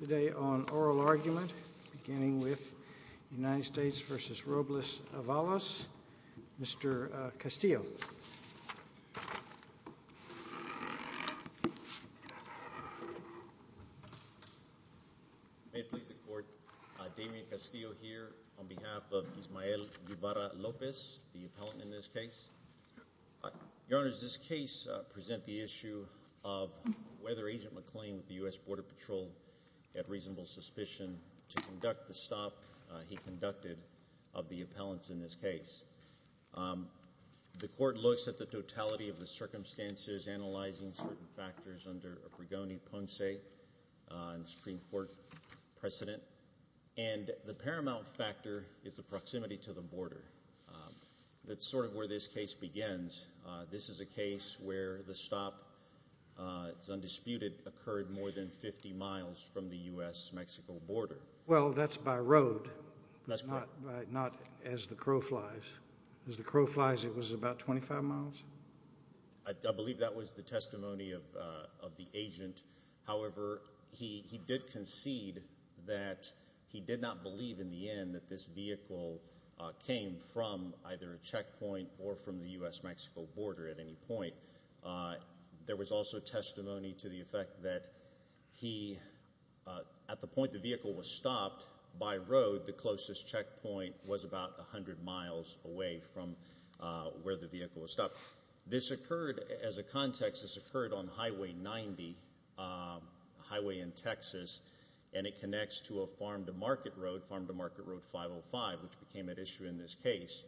Today on Oral Argument, beginning with United States v. Robles-Avalos, Mr. Castillo. May it please the Court, Damian Castillo here on behalf of Ismael Guevara-Lopez, the appellant in this case. Your Honor, does this case present the issue of whether Agent McLean of the U.S. Border Patrol had reasonable suspicion to conduct the stop he conducted of the appellants in this case? The Court looks at the totality of the circumstances, analyzing certain factors under a Brigoni-Ponce and Supreme Court precedent, and the paramount factor is the proximity to the border. That's sort of where this case begins. This is a case where the stop, it's undisputed, occurred more than 50 miles from the U.S.-Mexico border. Well, that's by road, not as the crow flies. As the crow flies, it was about 25 miles? I believe that was the testimony of the agent. However, he did concede that he did not believe in the end that this vehicle came from either a checkpoint or from the U.S.-Mexico border at any point. There was also testimony to the effect that he, at the point the vehicle was stopped by road, the closest checkpoint was about 100 miles away from where the vehicle was stopped. This occurred, as a context, this occurred on Highway 90, a highway in Texas, and it connects to a farm-to-market road, Farm-to-Market Road 505, which became at issue in this case.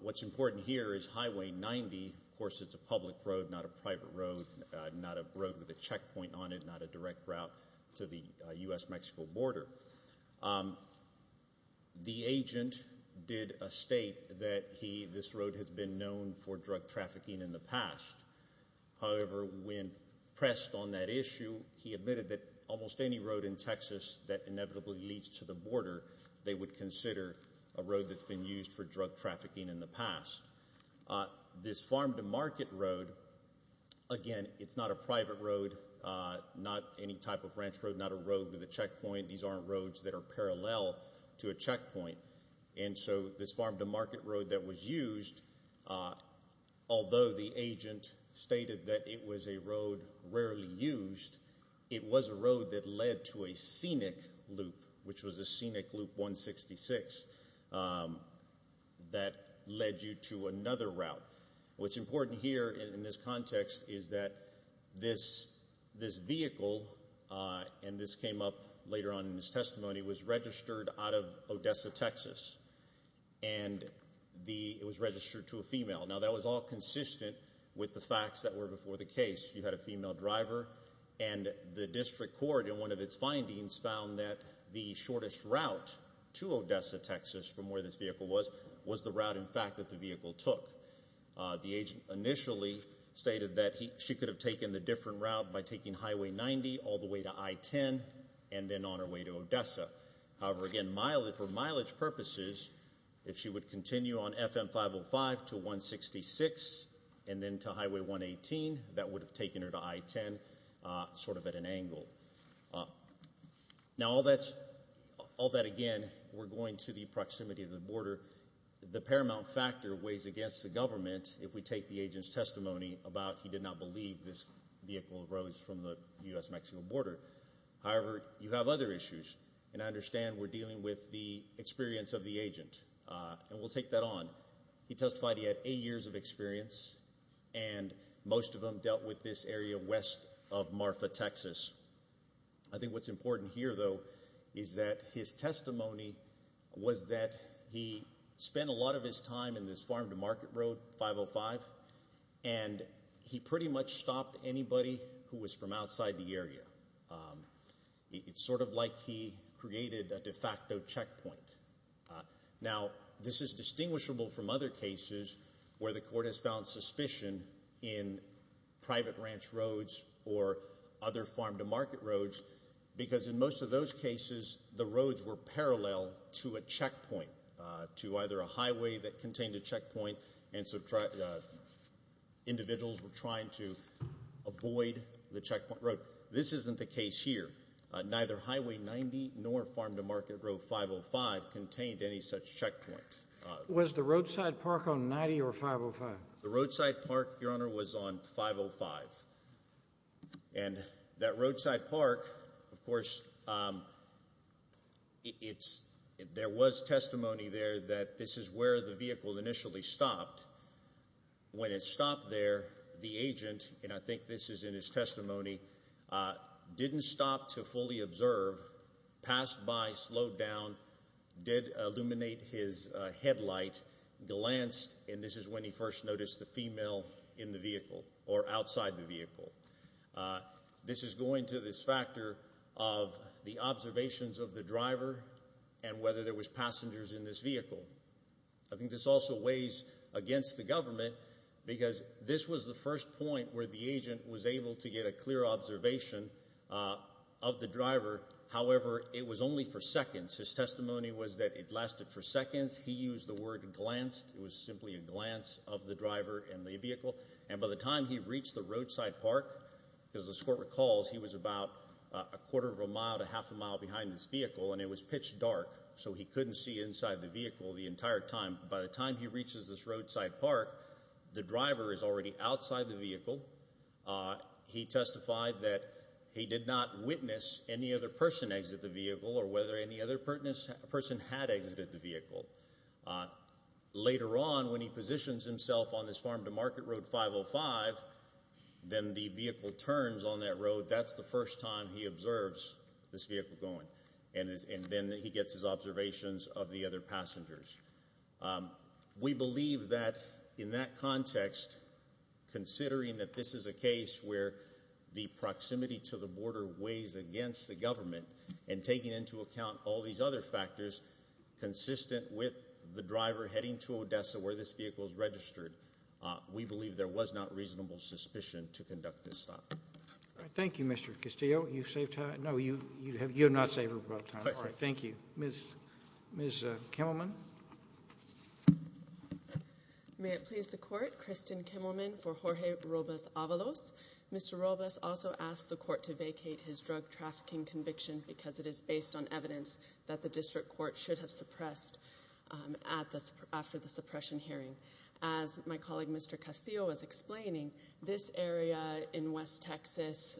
What's important here is Highway 90, of course it's a public road, not a private road, not a road with a checkpoint on it, not a direct route to the U.S.-Mexico border. The agent did state that he, this road has been known for drug trafficking in the past. However, when pressed on that issue, he admitted that almost any road in Texas that inevitably leads to the border, they would consider a road that's been used for drug trafficking in the past. This Farm-to-Market Road, again, it's not a private road, not any type of ranch road, not a road with a checkpoint. These aren't roads that are parallel to a checkpoint. And so this Farm-to-Market Road that was used, although the agent stated that it was a road rarely used, it was a road that led to a scenic loop, which was a scenic loop 166, that led you to another route. What's important here in this context is that this vehicle, and this came up later on in his testimony, was registered out of Odessa, Texas. And it was registered to a female. Now that was all consistent with the facts that were before the case. And the district court, in one of its findings, found that the shortest route to Odessa, Texas, from where this vehicle was, was the route, in fact, that the vehicle took. The agent initially stated that she could have taken the different route by taking Highway 90 all the way to I-10 and then on her way to Odessa. However, again, for mileage purposes, if she would continue on FM 505 to 166 and then to Highway 118, that would have taken her to I-10 sort of at an angle. Now all that, again, we're going to the proximity of the border. The paramount factor weighs against the government if we take the agent's testimony about he did not believe this vehicle arose from the U.S.-Mexico border. However, you have other issues, and I understand we're dealing with the experience of the agent, and we'll take that on. He testified he had eight years of experience, and most of them dealt with this area west of Marfa, Texas. I think what's important here, though, is that his testimony was that he spent a lot of his time in this farm-to-market road, 505, and he pretty much stopped anybody who was from outside the area. It's sort of like he created a de facto checkpoint. Now this is distinguishable from other cases where the court has found suspicion in private ranch roads or other farm-to-market roads because in most of those cases the roads were parallel to a checkpoint, to either a highway that contained a checkpoint, and so individuals were trying to avoid the checkpoint road. This isn't the case here. Neither Highway 90 nor farm-to-market road 505 contained any such checkpoint. Was the roadside park on 90 or 505? The roadside park, Your Honor, was on 505. And that roadside park, of course, there was testimony there that this is where the vehicle initially stopped. When it stopped there, the agent, and I think this is in his testimony, didn't stop to fully observe, passed by, slowed down, did illuminate his headlight, glanced, and this is when he first noticed the female in the vehicle or outside the vehicle. This is going to this factor of the observations of the driver and whether there was passengers in this vehicle. I think this also weighs against the government because this was the first point where the agent was able to get a clear observation of the driver. However, it was only for seconds. His testimony was that it lasted for seconds. He used the word glanced. It was simply a glance of the driver and the vehicle. And by the time he reached the roadside park, as this Court recalls, he was about a quarter of a mile to half a mile behind this vehicle, and it was pitch dark, so he couldn't see inside the vehicle the entire time. By the time he reaches this roadside park, the driver is already outside the vehicle. He testified that he did not witness any other person exit the vehicle or whether any other person had exited the vehicle. Later on, when he positions himself on this Farm to Market Road 505, then the vehicle turns on that road. That's the first time he observes this vehicle going, and then he gets his observations of the other passengers. We believe that in that context, considering that this is a case where the proximity to the border weighs against the government and taking into account all these other factors consistent with the driver heading to Odessa where this vehicle is registered, we believe there was not reasonable suspicion to conduct this stop. Thank you, Mr. Castillo. You've saved time. No, you have not saved a lot of time. Thank you. Ms. Kimmelman. May it please the Court, Kristen Kimmelman for Jorge Robles Avalos. Mr. Robles also asked the Court to vacate his drug trafficking conviction because it is based on evidence that the District Court should have suppressed after the suppression hearing. As my colleague Mr. Castillo was explaining, this area in West Texas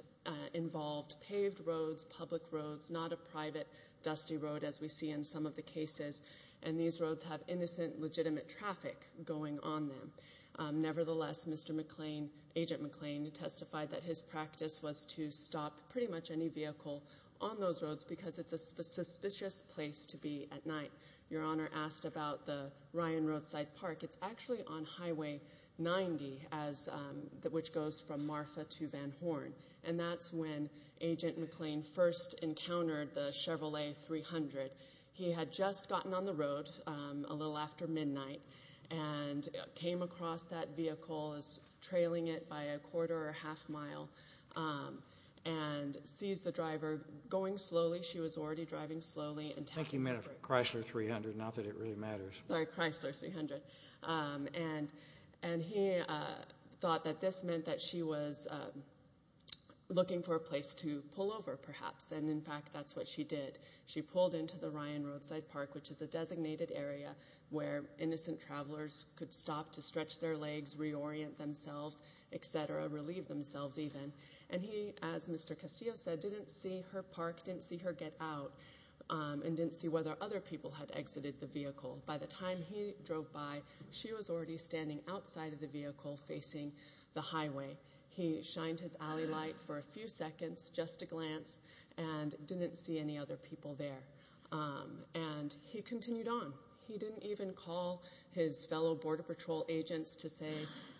involved paved roads, public roads, not a private dusty road as we see in some of the cases, and these roads have innocent, legitimate traffic going on them. Nevertheless, Agent McClain testified that his practice was to stop pretty much any vehicle on those roads because it's a suspicious place to be at night. Your Honor asked about the Ryan Roadside Park. It's actually on Highway 90, which goes from Marfa to Van Horn, and that's when Agent McClain first encountered the Chevrolet 300. He had just gotten on the road a little after midnight and came across that vehicle, was trailing it by a quarter or a half mile, and sees the driver going slowly. She was already driving slowly. Thank you, ma'am, Chrysler 300, now that it really matters. Sorry, Chrysler 300. And he thought that this meant that she was looking for a place to pull over perhaps, and in fact that's what she did. She pulled into the Ryan Roadside Park, which is a designated area where innocent travelers could stop to stretch their legs, reorient themselves, et cetera, relieve themselves even. And he, as Mr. Castillo said, didn't see her park, didn't see her get out, and didn't see whether other people had exited the vehicle. By the time he drove by, she was already standing outside of the vehicle facing the highway. He shined his alley light for a few seconds, just a glance, and didn't see any other people there. And he continued on. He didn't even call his fellow Border Patrol agents to say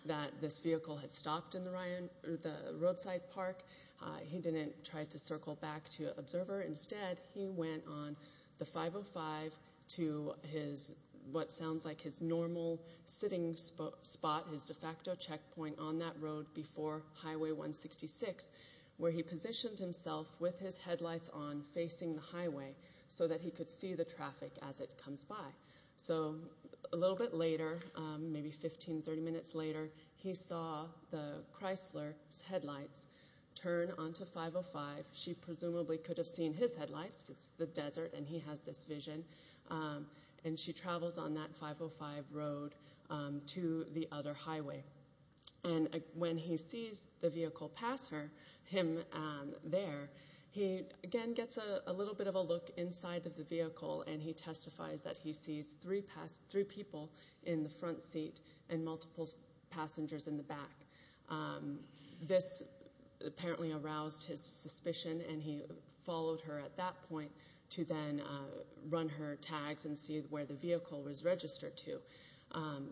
that this vehicle had stopped in the roadside park. He didn't try to circle back to an observer. Instead, he went on the 505 to what sounds like his normal sitting spot, his de facto checkpoint on that road before Highway 166, where he positioned himself with his headlights on facing the highway so that he could see the traffic as it comes by. So a little bit later, maybe 15, 30 minutes later, he saw the Chrysler's headlights turn onto 505. She presumably could have seen his headlights. It's the desert, and he has this vision. And she travels on that 505 road to the other highway. And when he sees the vehicle pass him there, he again gets a little bit of a look inside of the vehicle, and he testifies that he sees three people in the front seat and multiple passengers in the back. This apparently aroused his suspicion, and he followed her at that point to then run her tags and see where the vehicle was registered to.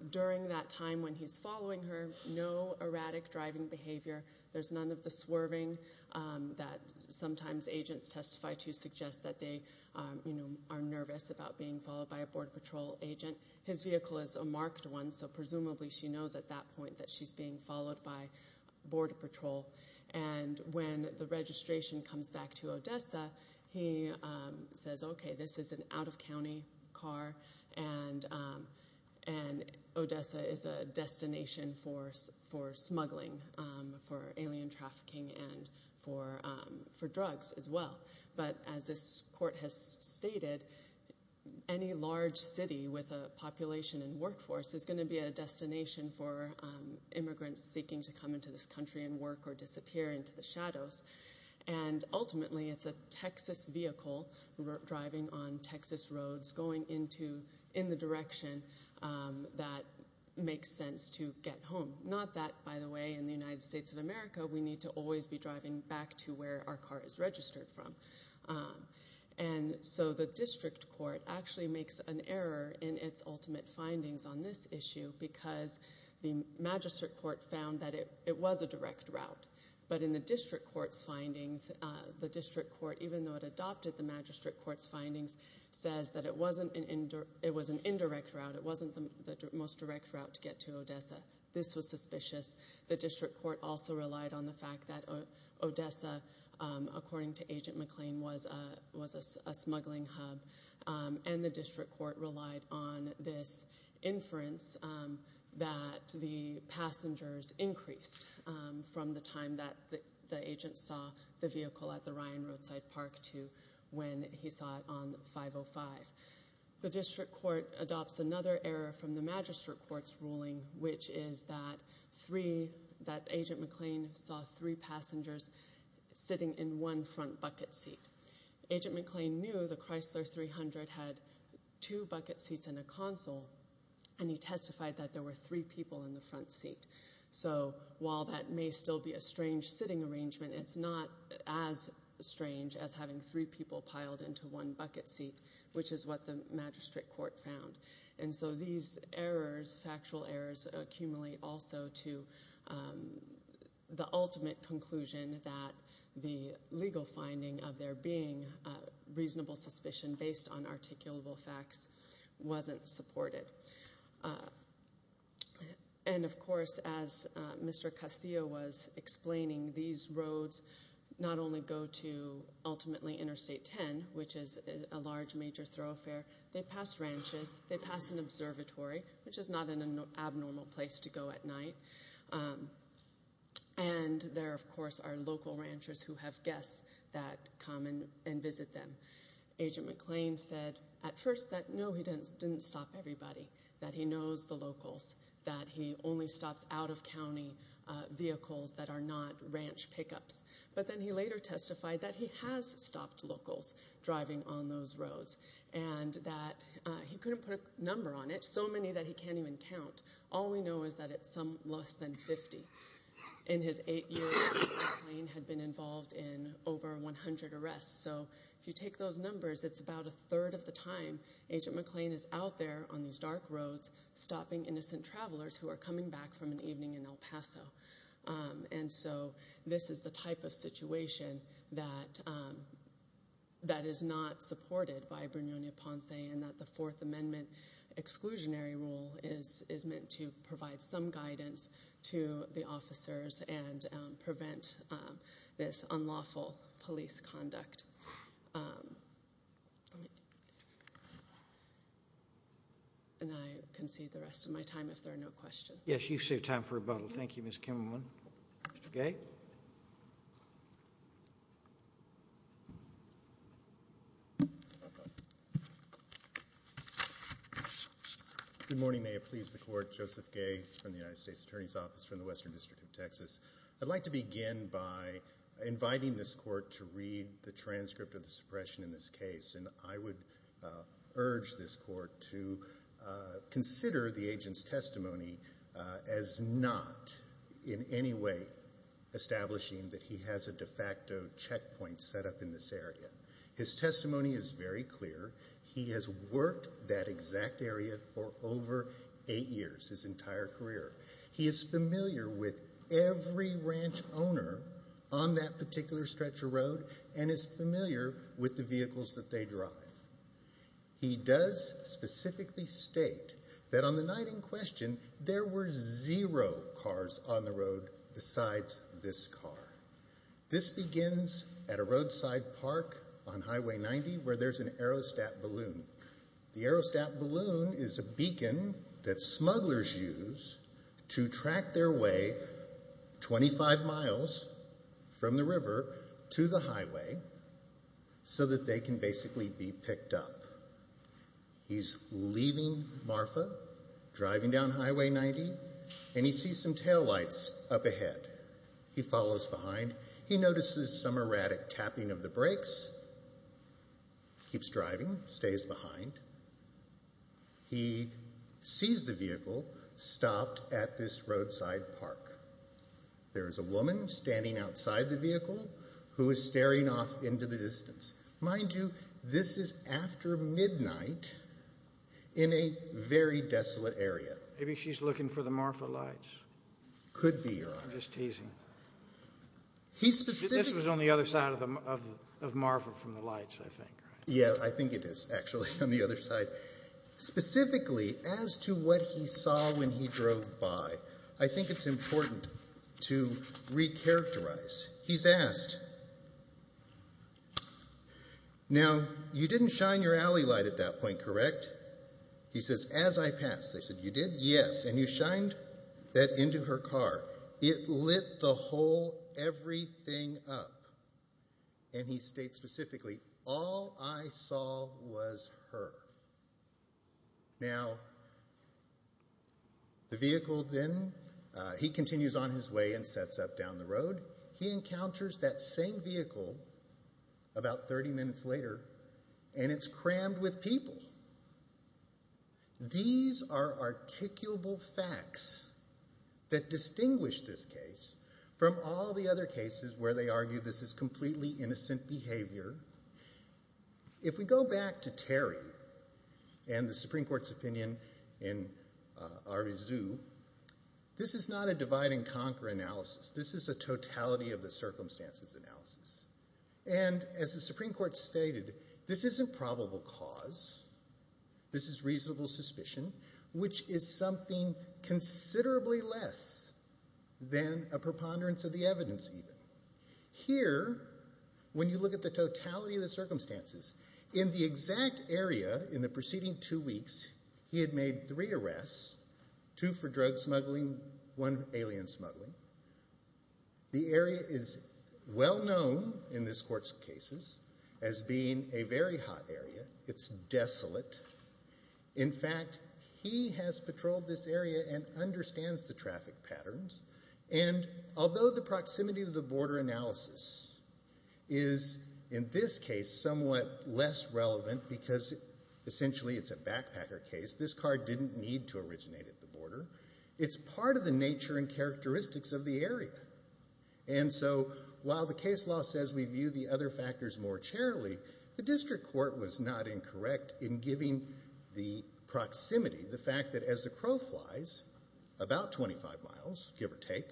During that time when he's following her, no erratic driving behavior. There's none of the swerving that sometimes agents testify to suggest that they are nervous about being followed by a Border Patrol agent. His vehicle is a marked one, so presumably she knows at that point that she's being followed by Border Patrol. And when the registration comes back to Odessa, he says, okay, this is an out-of-county car, and Odessa is a destination for smuggling, for alien trafficking, and for drugs as well. But as this court has stated, any large city with a population and workforce is going to be a destination for immigrants seeking to come into this country and work or disappear into the shadows. And ultimately, it's a Texas vehicle driving on Texas roads, going in the direction that makes sense to get home. Not that, by the way, in the United States of America, we need to always be driving back to where our car is registered from. And so the district court actually makes an error in its ultimate findings on this issue because the magistrate court found that it was a direct route. But in the district court's findings, the district court, even though it adopted the magistrate court's findings, says that it was an indirect route, it wasn't the most direct route to get to Odessa. This was suspicious. The district court also relied on the fact that Odessa, according to Agent McLean, was a smuggling hub. And the district court relied on this inference that the passengers increased from the time that the agent saw the vehicle at the Ryan Roadside Park to when he saw it on 505. The district court adopts another error from the magistrate court's ruling, which is that Agent McLean saw three passengers sitting in one front bucket seat. Agent McLean knew the Chrysler 300 had two bucket seats and a console, and he testified that there were three people in the front seat. So while that may still be a strange sitting arrangement, it's not as strange as having three people piled into one bucket seat, which is what the magistrate court found. And so these errors, factual errors, accumulate also to the ultimate conclusion that the legal finding of there being reasonable suspicion based on articulable facts wasn't supported. And, of course, as Mr. Castillo was explaining, these roads not only go to ultimately Interstate 10, which is a large major thoroughfare, they pass ranches, they pass an observatory, which is not an abnormal place to go at night. And there, of course, are local ranchers who have guests that come and visit them. Agent McLean said at first that, no, he didn't stop everybody, that he knows the locals, that he only stops out-of-county vehicles that are not ranch pickups. But then he later testified that he has stopped locals driving on those roads, and that he couldn't put a number on it, so many that he can't even count. All we know is that it's some less than 50. In his eight years, McLean had been involved in over 100 arrests. So if you take those numbers, it's about a third of the time Agent McLean is out there on these dark roads stopping innocent travelers who are coming back from an evening in El Paso. And so this is the type of situation that is not supported by Brignone-Upon-Sea and that the Fourth Amendment exclusionary rule is meant to provide some guidance to the officers and prevent this unlawful police conduct. And I concede the rest of my time if there are no questions. Yes, you saved time for rebuttal. Thank you, Mr. Kimmelman. Mr. Gay. Good morning. May it please the Court. Joseph Gay from the United States Attorney's Office from the Western District of Texas. I'd like to begin by inviting this Court to read the transcript of the suppression in this case, and I would urge this Court to consider the agent's testimony as not in any way establishing that he has a de facto checkpoint set up in this area. His testimony is very clear. He has worked that exact area for over eight years, his entire career. He is familiar with every ranch owner on that particular stretch of road and is familiar with the vehicles that they drive. He does specifically state that on the night in question, there were zero cars on the road besides this car. This begins at a roadside park on Highway 90 where there's an aerostat balloon. The aerostat balloon is a beacon that smugglers use to track their way 25 miles from the river to the highway so that they can basically be picked up. He's leaving Marfa, driving down Highway 90, and he sees some taillights up ahead. He follows behind. He notices some erratic tapping of the brakes, keeps driving, stays behind. He sees the vehicle stopped at this roadside park. There is a woman standing outside the vehicle who is staring off into the distance. Mind you, this is after midnight in a very desolate area. Maybe she's looking for the Marfa lights. Could be, Your Honor. I'm just teasing. This was on the other side of Marfa from the lights, I think. Yeah, I think it is actually on the other side. Specifically, as to what he saw when he drove by, I think it's important to recharacterize. He's asked, now, you didn't shine your alley light at that point, correct? He says, as I passed. They said, you did? Yes. And you shined that into her car. It lit the whole everything up. And he states specifically, all I saw was her. Now, the vehicle then, he continues on his way and sets up down the road. He encounters that same vehicle about 30 minutes later, and it's crammed with people. These are articulable facts that distinguish this case from all the other cases where they argue this is completely innocent behavior. If we go back to Terry and the Supreme Court's opinion in Arizoo, this is not a divide-and-conquer analysis. This is a totality-of-the-circumstances analysis. And as the Supreme Court stated, this isn't probable cause. This is reasonable suspicion, which is something considerably less than a preponderance of the evidence, even. Here, when you look at the totality of the circumstances, in the exact area in the preceding two weeks, he had made three arrests, two for drug smuggling, one alien smuggling. The area is well-known in this Court's cases as being a very hot area. It's desolate. In fact, he has patrolled this area and understands the traffic patterns. And although the proximity to the border analysis is, in this case, somewhat less relevant because, essentially, it's a backpacker case, it's part of the nature and characteristics of the area. And so while the case law says we view the other factors more cheerily, the district court was not incorrect in giving the proximity, the fact that as the crow flies about 25 miles, give or take,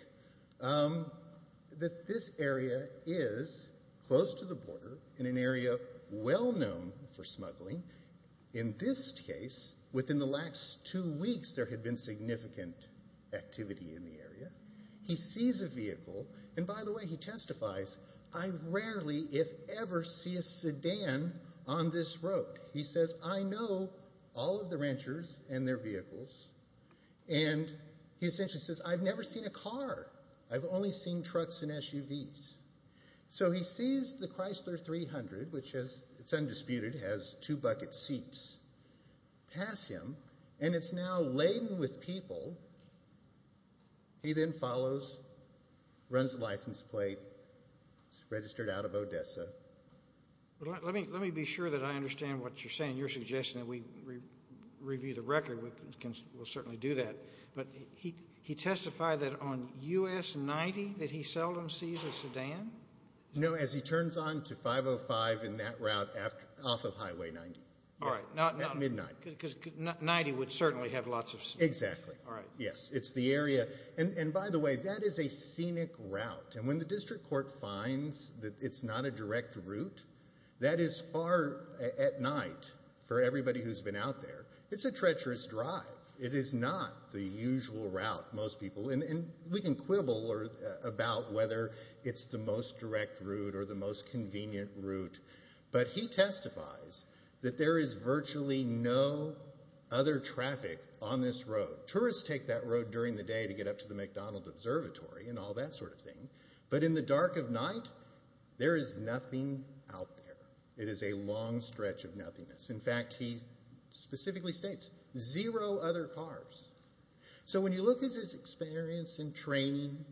that this area is close to the border in an area well-known for smuggling. In this case, within the last two weeks, there had been significant activity in the area. He sees a vehicle, and by the way, he testifies, I rarely, if ever, see a sedan on this road. He says, I know all of the ranchers and their vehicles. And he essentially says, I've never seen a car. I've only seen trucks and SUVs. So he sees the Chrysler 300, which is undisputed, has two bucket seats, pass him, and it's now laden with people. He then follows, runs the license plate, registered out of Odessa. Let me be sure that I understand what you're saying. You're suggesting that we review the record. We'll certainly do that. But he testified that on U.S. 90 that he seldom sees a sedan? No, as he turns on to 505 in that route off of Highway 90. All right. At midnight. Because 90 would certainly have lots of sedans. Exactly. All right. Yes, it's the area. And by the way, that is a scenic route. And when the district court finds that it's not a direct route, that is far at night for everybody who's been out there. It's a treacherous drive. It is not the usual route, most people. And we can quibble about whether it's the most direct route or the most convenient route. But he testifies that there is virtually no other traffic on this road. Tourists take that road during the day to get up to the McDonald Observatory and all that sort of thing. But in the dark of night, there is nothing out there. It is a long stretch of nothingness. In fact, he specifically states, zero other cars. So when you look at his experience and training,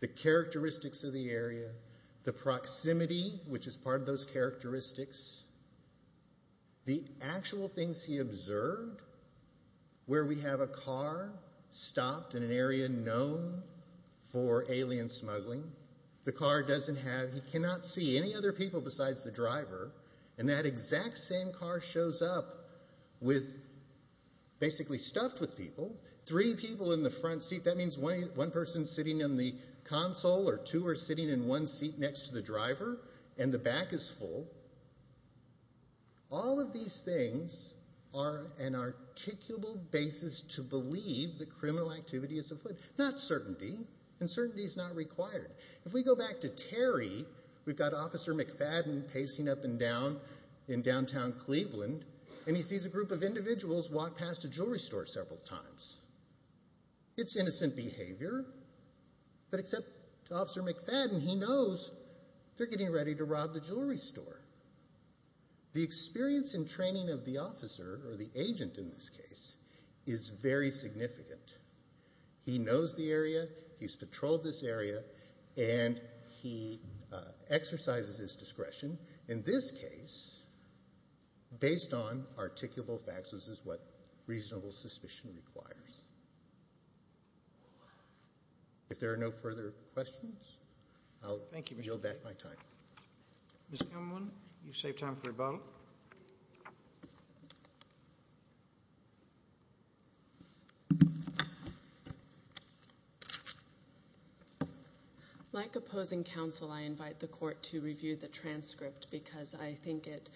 the characteristics of the area, the proximity, which is part of those characteristics, the actual things he observed, where we have a car stopped in an area known for alien smuggling, the car doesn't have, he cannot see any other people besides the driver, and that exact same car shows up with, basically stuffed with people, three people in the front seat. That means one person is sitting in the console or two are sitting in one seat next to the driver, and the back is full. All of these things are an articulable basis to believe that criminal activity is afoot. Not certainty. And certainty is not required. If we go back to Terry, we've got Officer McFadden pacing up and down in downtown Cleveland, and he sees a group of individuals walk past a jewelry store several times. It's innocent behavior, but except Officer McFadden, he knows they're getting ready to rob the jewelry store. The experience and training of the officer, or the agent in this case, is very significant. He knows the area, he's patrolled this area, and he exercises his discretion. In this case, based on articulable facts, this is what reasonable suspicion requires. If there are no further questions, I'll yield back my time. Ms. Cameron, you've saved time for rebuttal. Like opposing counsel, I invite the court to review the transcript because I think it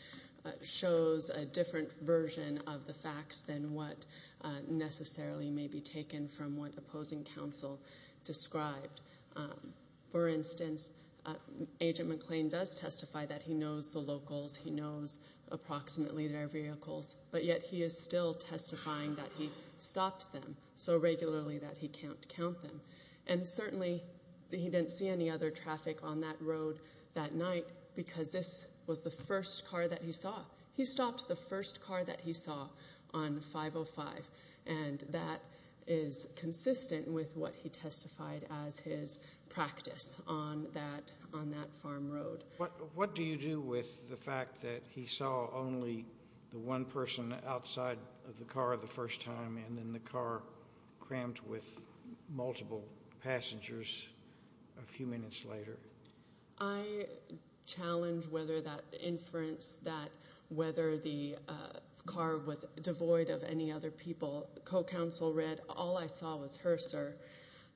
shows a different version of the facts than what necessarily may be taken from what opposing counsel described. For instance, Agent McClain does testify that he knows the locals, he knows approximately their vehicles, but yet he is still testifying that he stops them so regularly that he can't count them. And certainly he didn't see any other traffic on that road that night because this was the first car that he saw. He stopped the first car that he saw on 505, and that is consistent with what he testified as his practice on that farm road. What do you do with the fact that he saw only the one person outside of the car the first time and then the car crammed with multiple passengers a few minutes later? I challenge whether that inference, that whether the car was devoid of any other people, co-counsel read, all I saw was her, sir.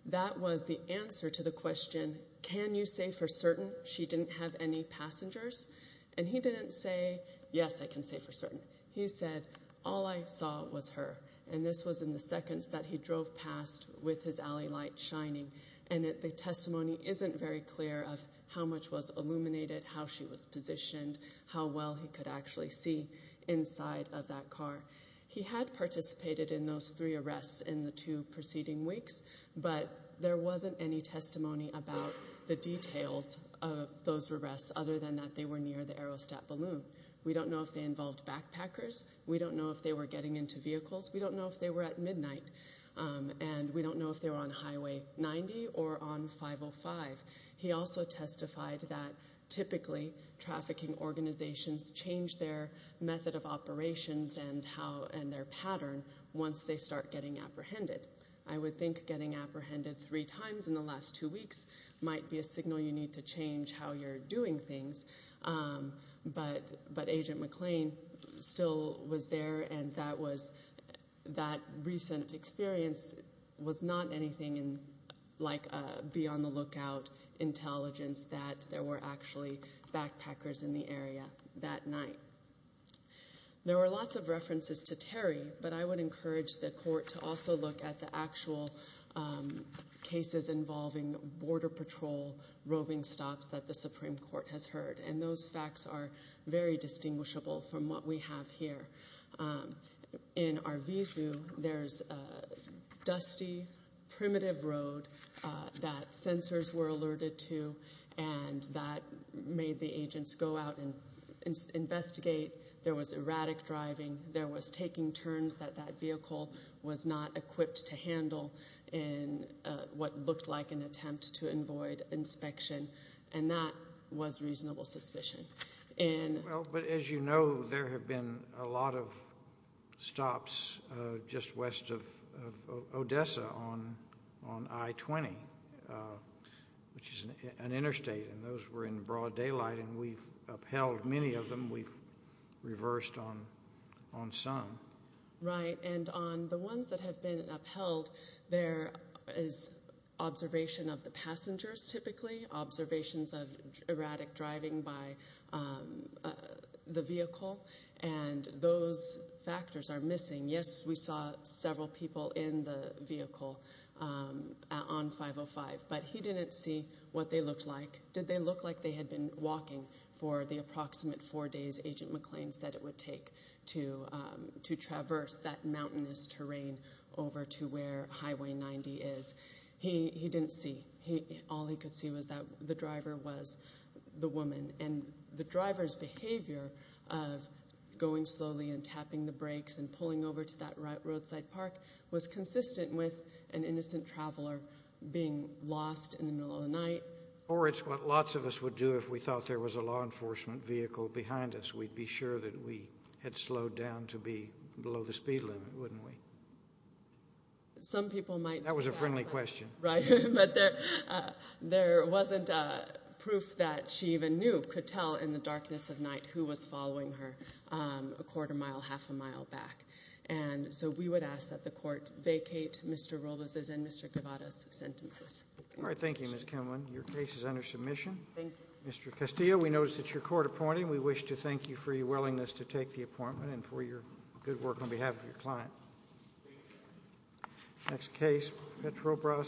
That was the answer to the question, can you say for certain she didn't have any passengers? And he didn't say, yes, I can say for certain. He said, all I saw was her. And this was in the seconds that he drove past with his alley light shining. And the testimony isn't very clear of how much was illuminated, how she was positioned, how well he could actually see inside of that car. He had participated in those three arrests in the two preceding weeks, but there wasn't any testimony about the details of those arrests other than that they were near the Aerostat balloon. We don't know if they involved backpackers. We don't know if they were getting into vehicles. We don't know if they were at midnight. And we don't know if they were on Highway 90 or on 505. He also testified that typically trafficking organizations change their method of operations and their pattern once they start getting apprehended. I would think getting apprehended three times in the last two weeks might be a signal you need to change how you're doing things. But Agent McLean still was there, and that recent experience was not anything like a be-on-the-lookout intelligence that there were actually backpackers in the area that night. There were lots of references to Terry, but I would encourage the court to also look at the actual cases involving border patrol roving stops that the Supreme Court has heard. And those facts are very distinguishable from what we have here. In Arvizu, there's a dusty, primitive road that sensors were alerted to and that made the agents go out and investigate. There was erratic driving. There was taking turns that that vehicle was not equipped to handle in what looked like an attempt to avoid inspection. And that was reasonable suspicion. But as you know, there have been a lot of stops just west of Odessa on I-20, which is an interstate, and those were in broad daylight, and we've upheld many of them. We've reversed on some. Right, and on the ones that have been upheld, there is observation of the passengers typically, observations of erratic driving by the vehicle, and those factors are missing. Yes, we saw several people in the vehicle on 505, but he didn't see what they looked like. Did they look like they had been walking for the approximate four days Agent McLean said it would take to traverse that mountainous terrain over to where Highway 90 is. He didn't see. All he could see was that the driver was the woman, and the driver's behavior of going slowly and tapping the brakes and pulling over to that roadside park was consistent with an innocent traveler being lost in the middle of the night. Or it's what lots of us would do if we thought there was a law enforcement vehicle behind us. We'd be sure that we had slowed down to be below the speed limit, wouldn't we? Some people might. That was a friendly question. Right, but there wasn't proof that she even knew, could tell in the darkness of night who was following her a quarter mile, half a mile back. So we would ask that the court vacate Mr. Robles' and Mr. Guevara's sentences. All right, thank you, Ms. Kimlin. Your case is under submission. Thank you. Mr. Castillo, we notice it's your court appointing. We wish to thank you for your willingness to take the appointment and for your good work on behalf of your client. Thank you, Your Honor. Next case, Petrobras.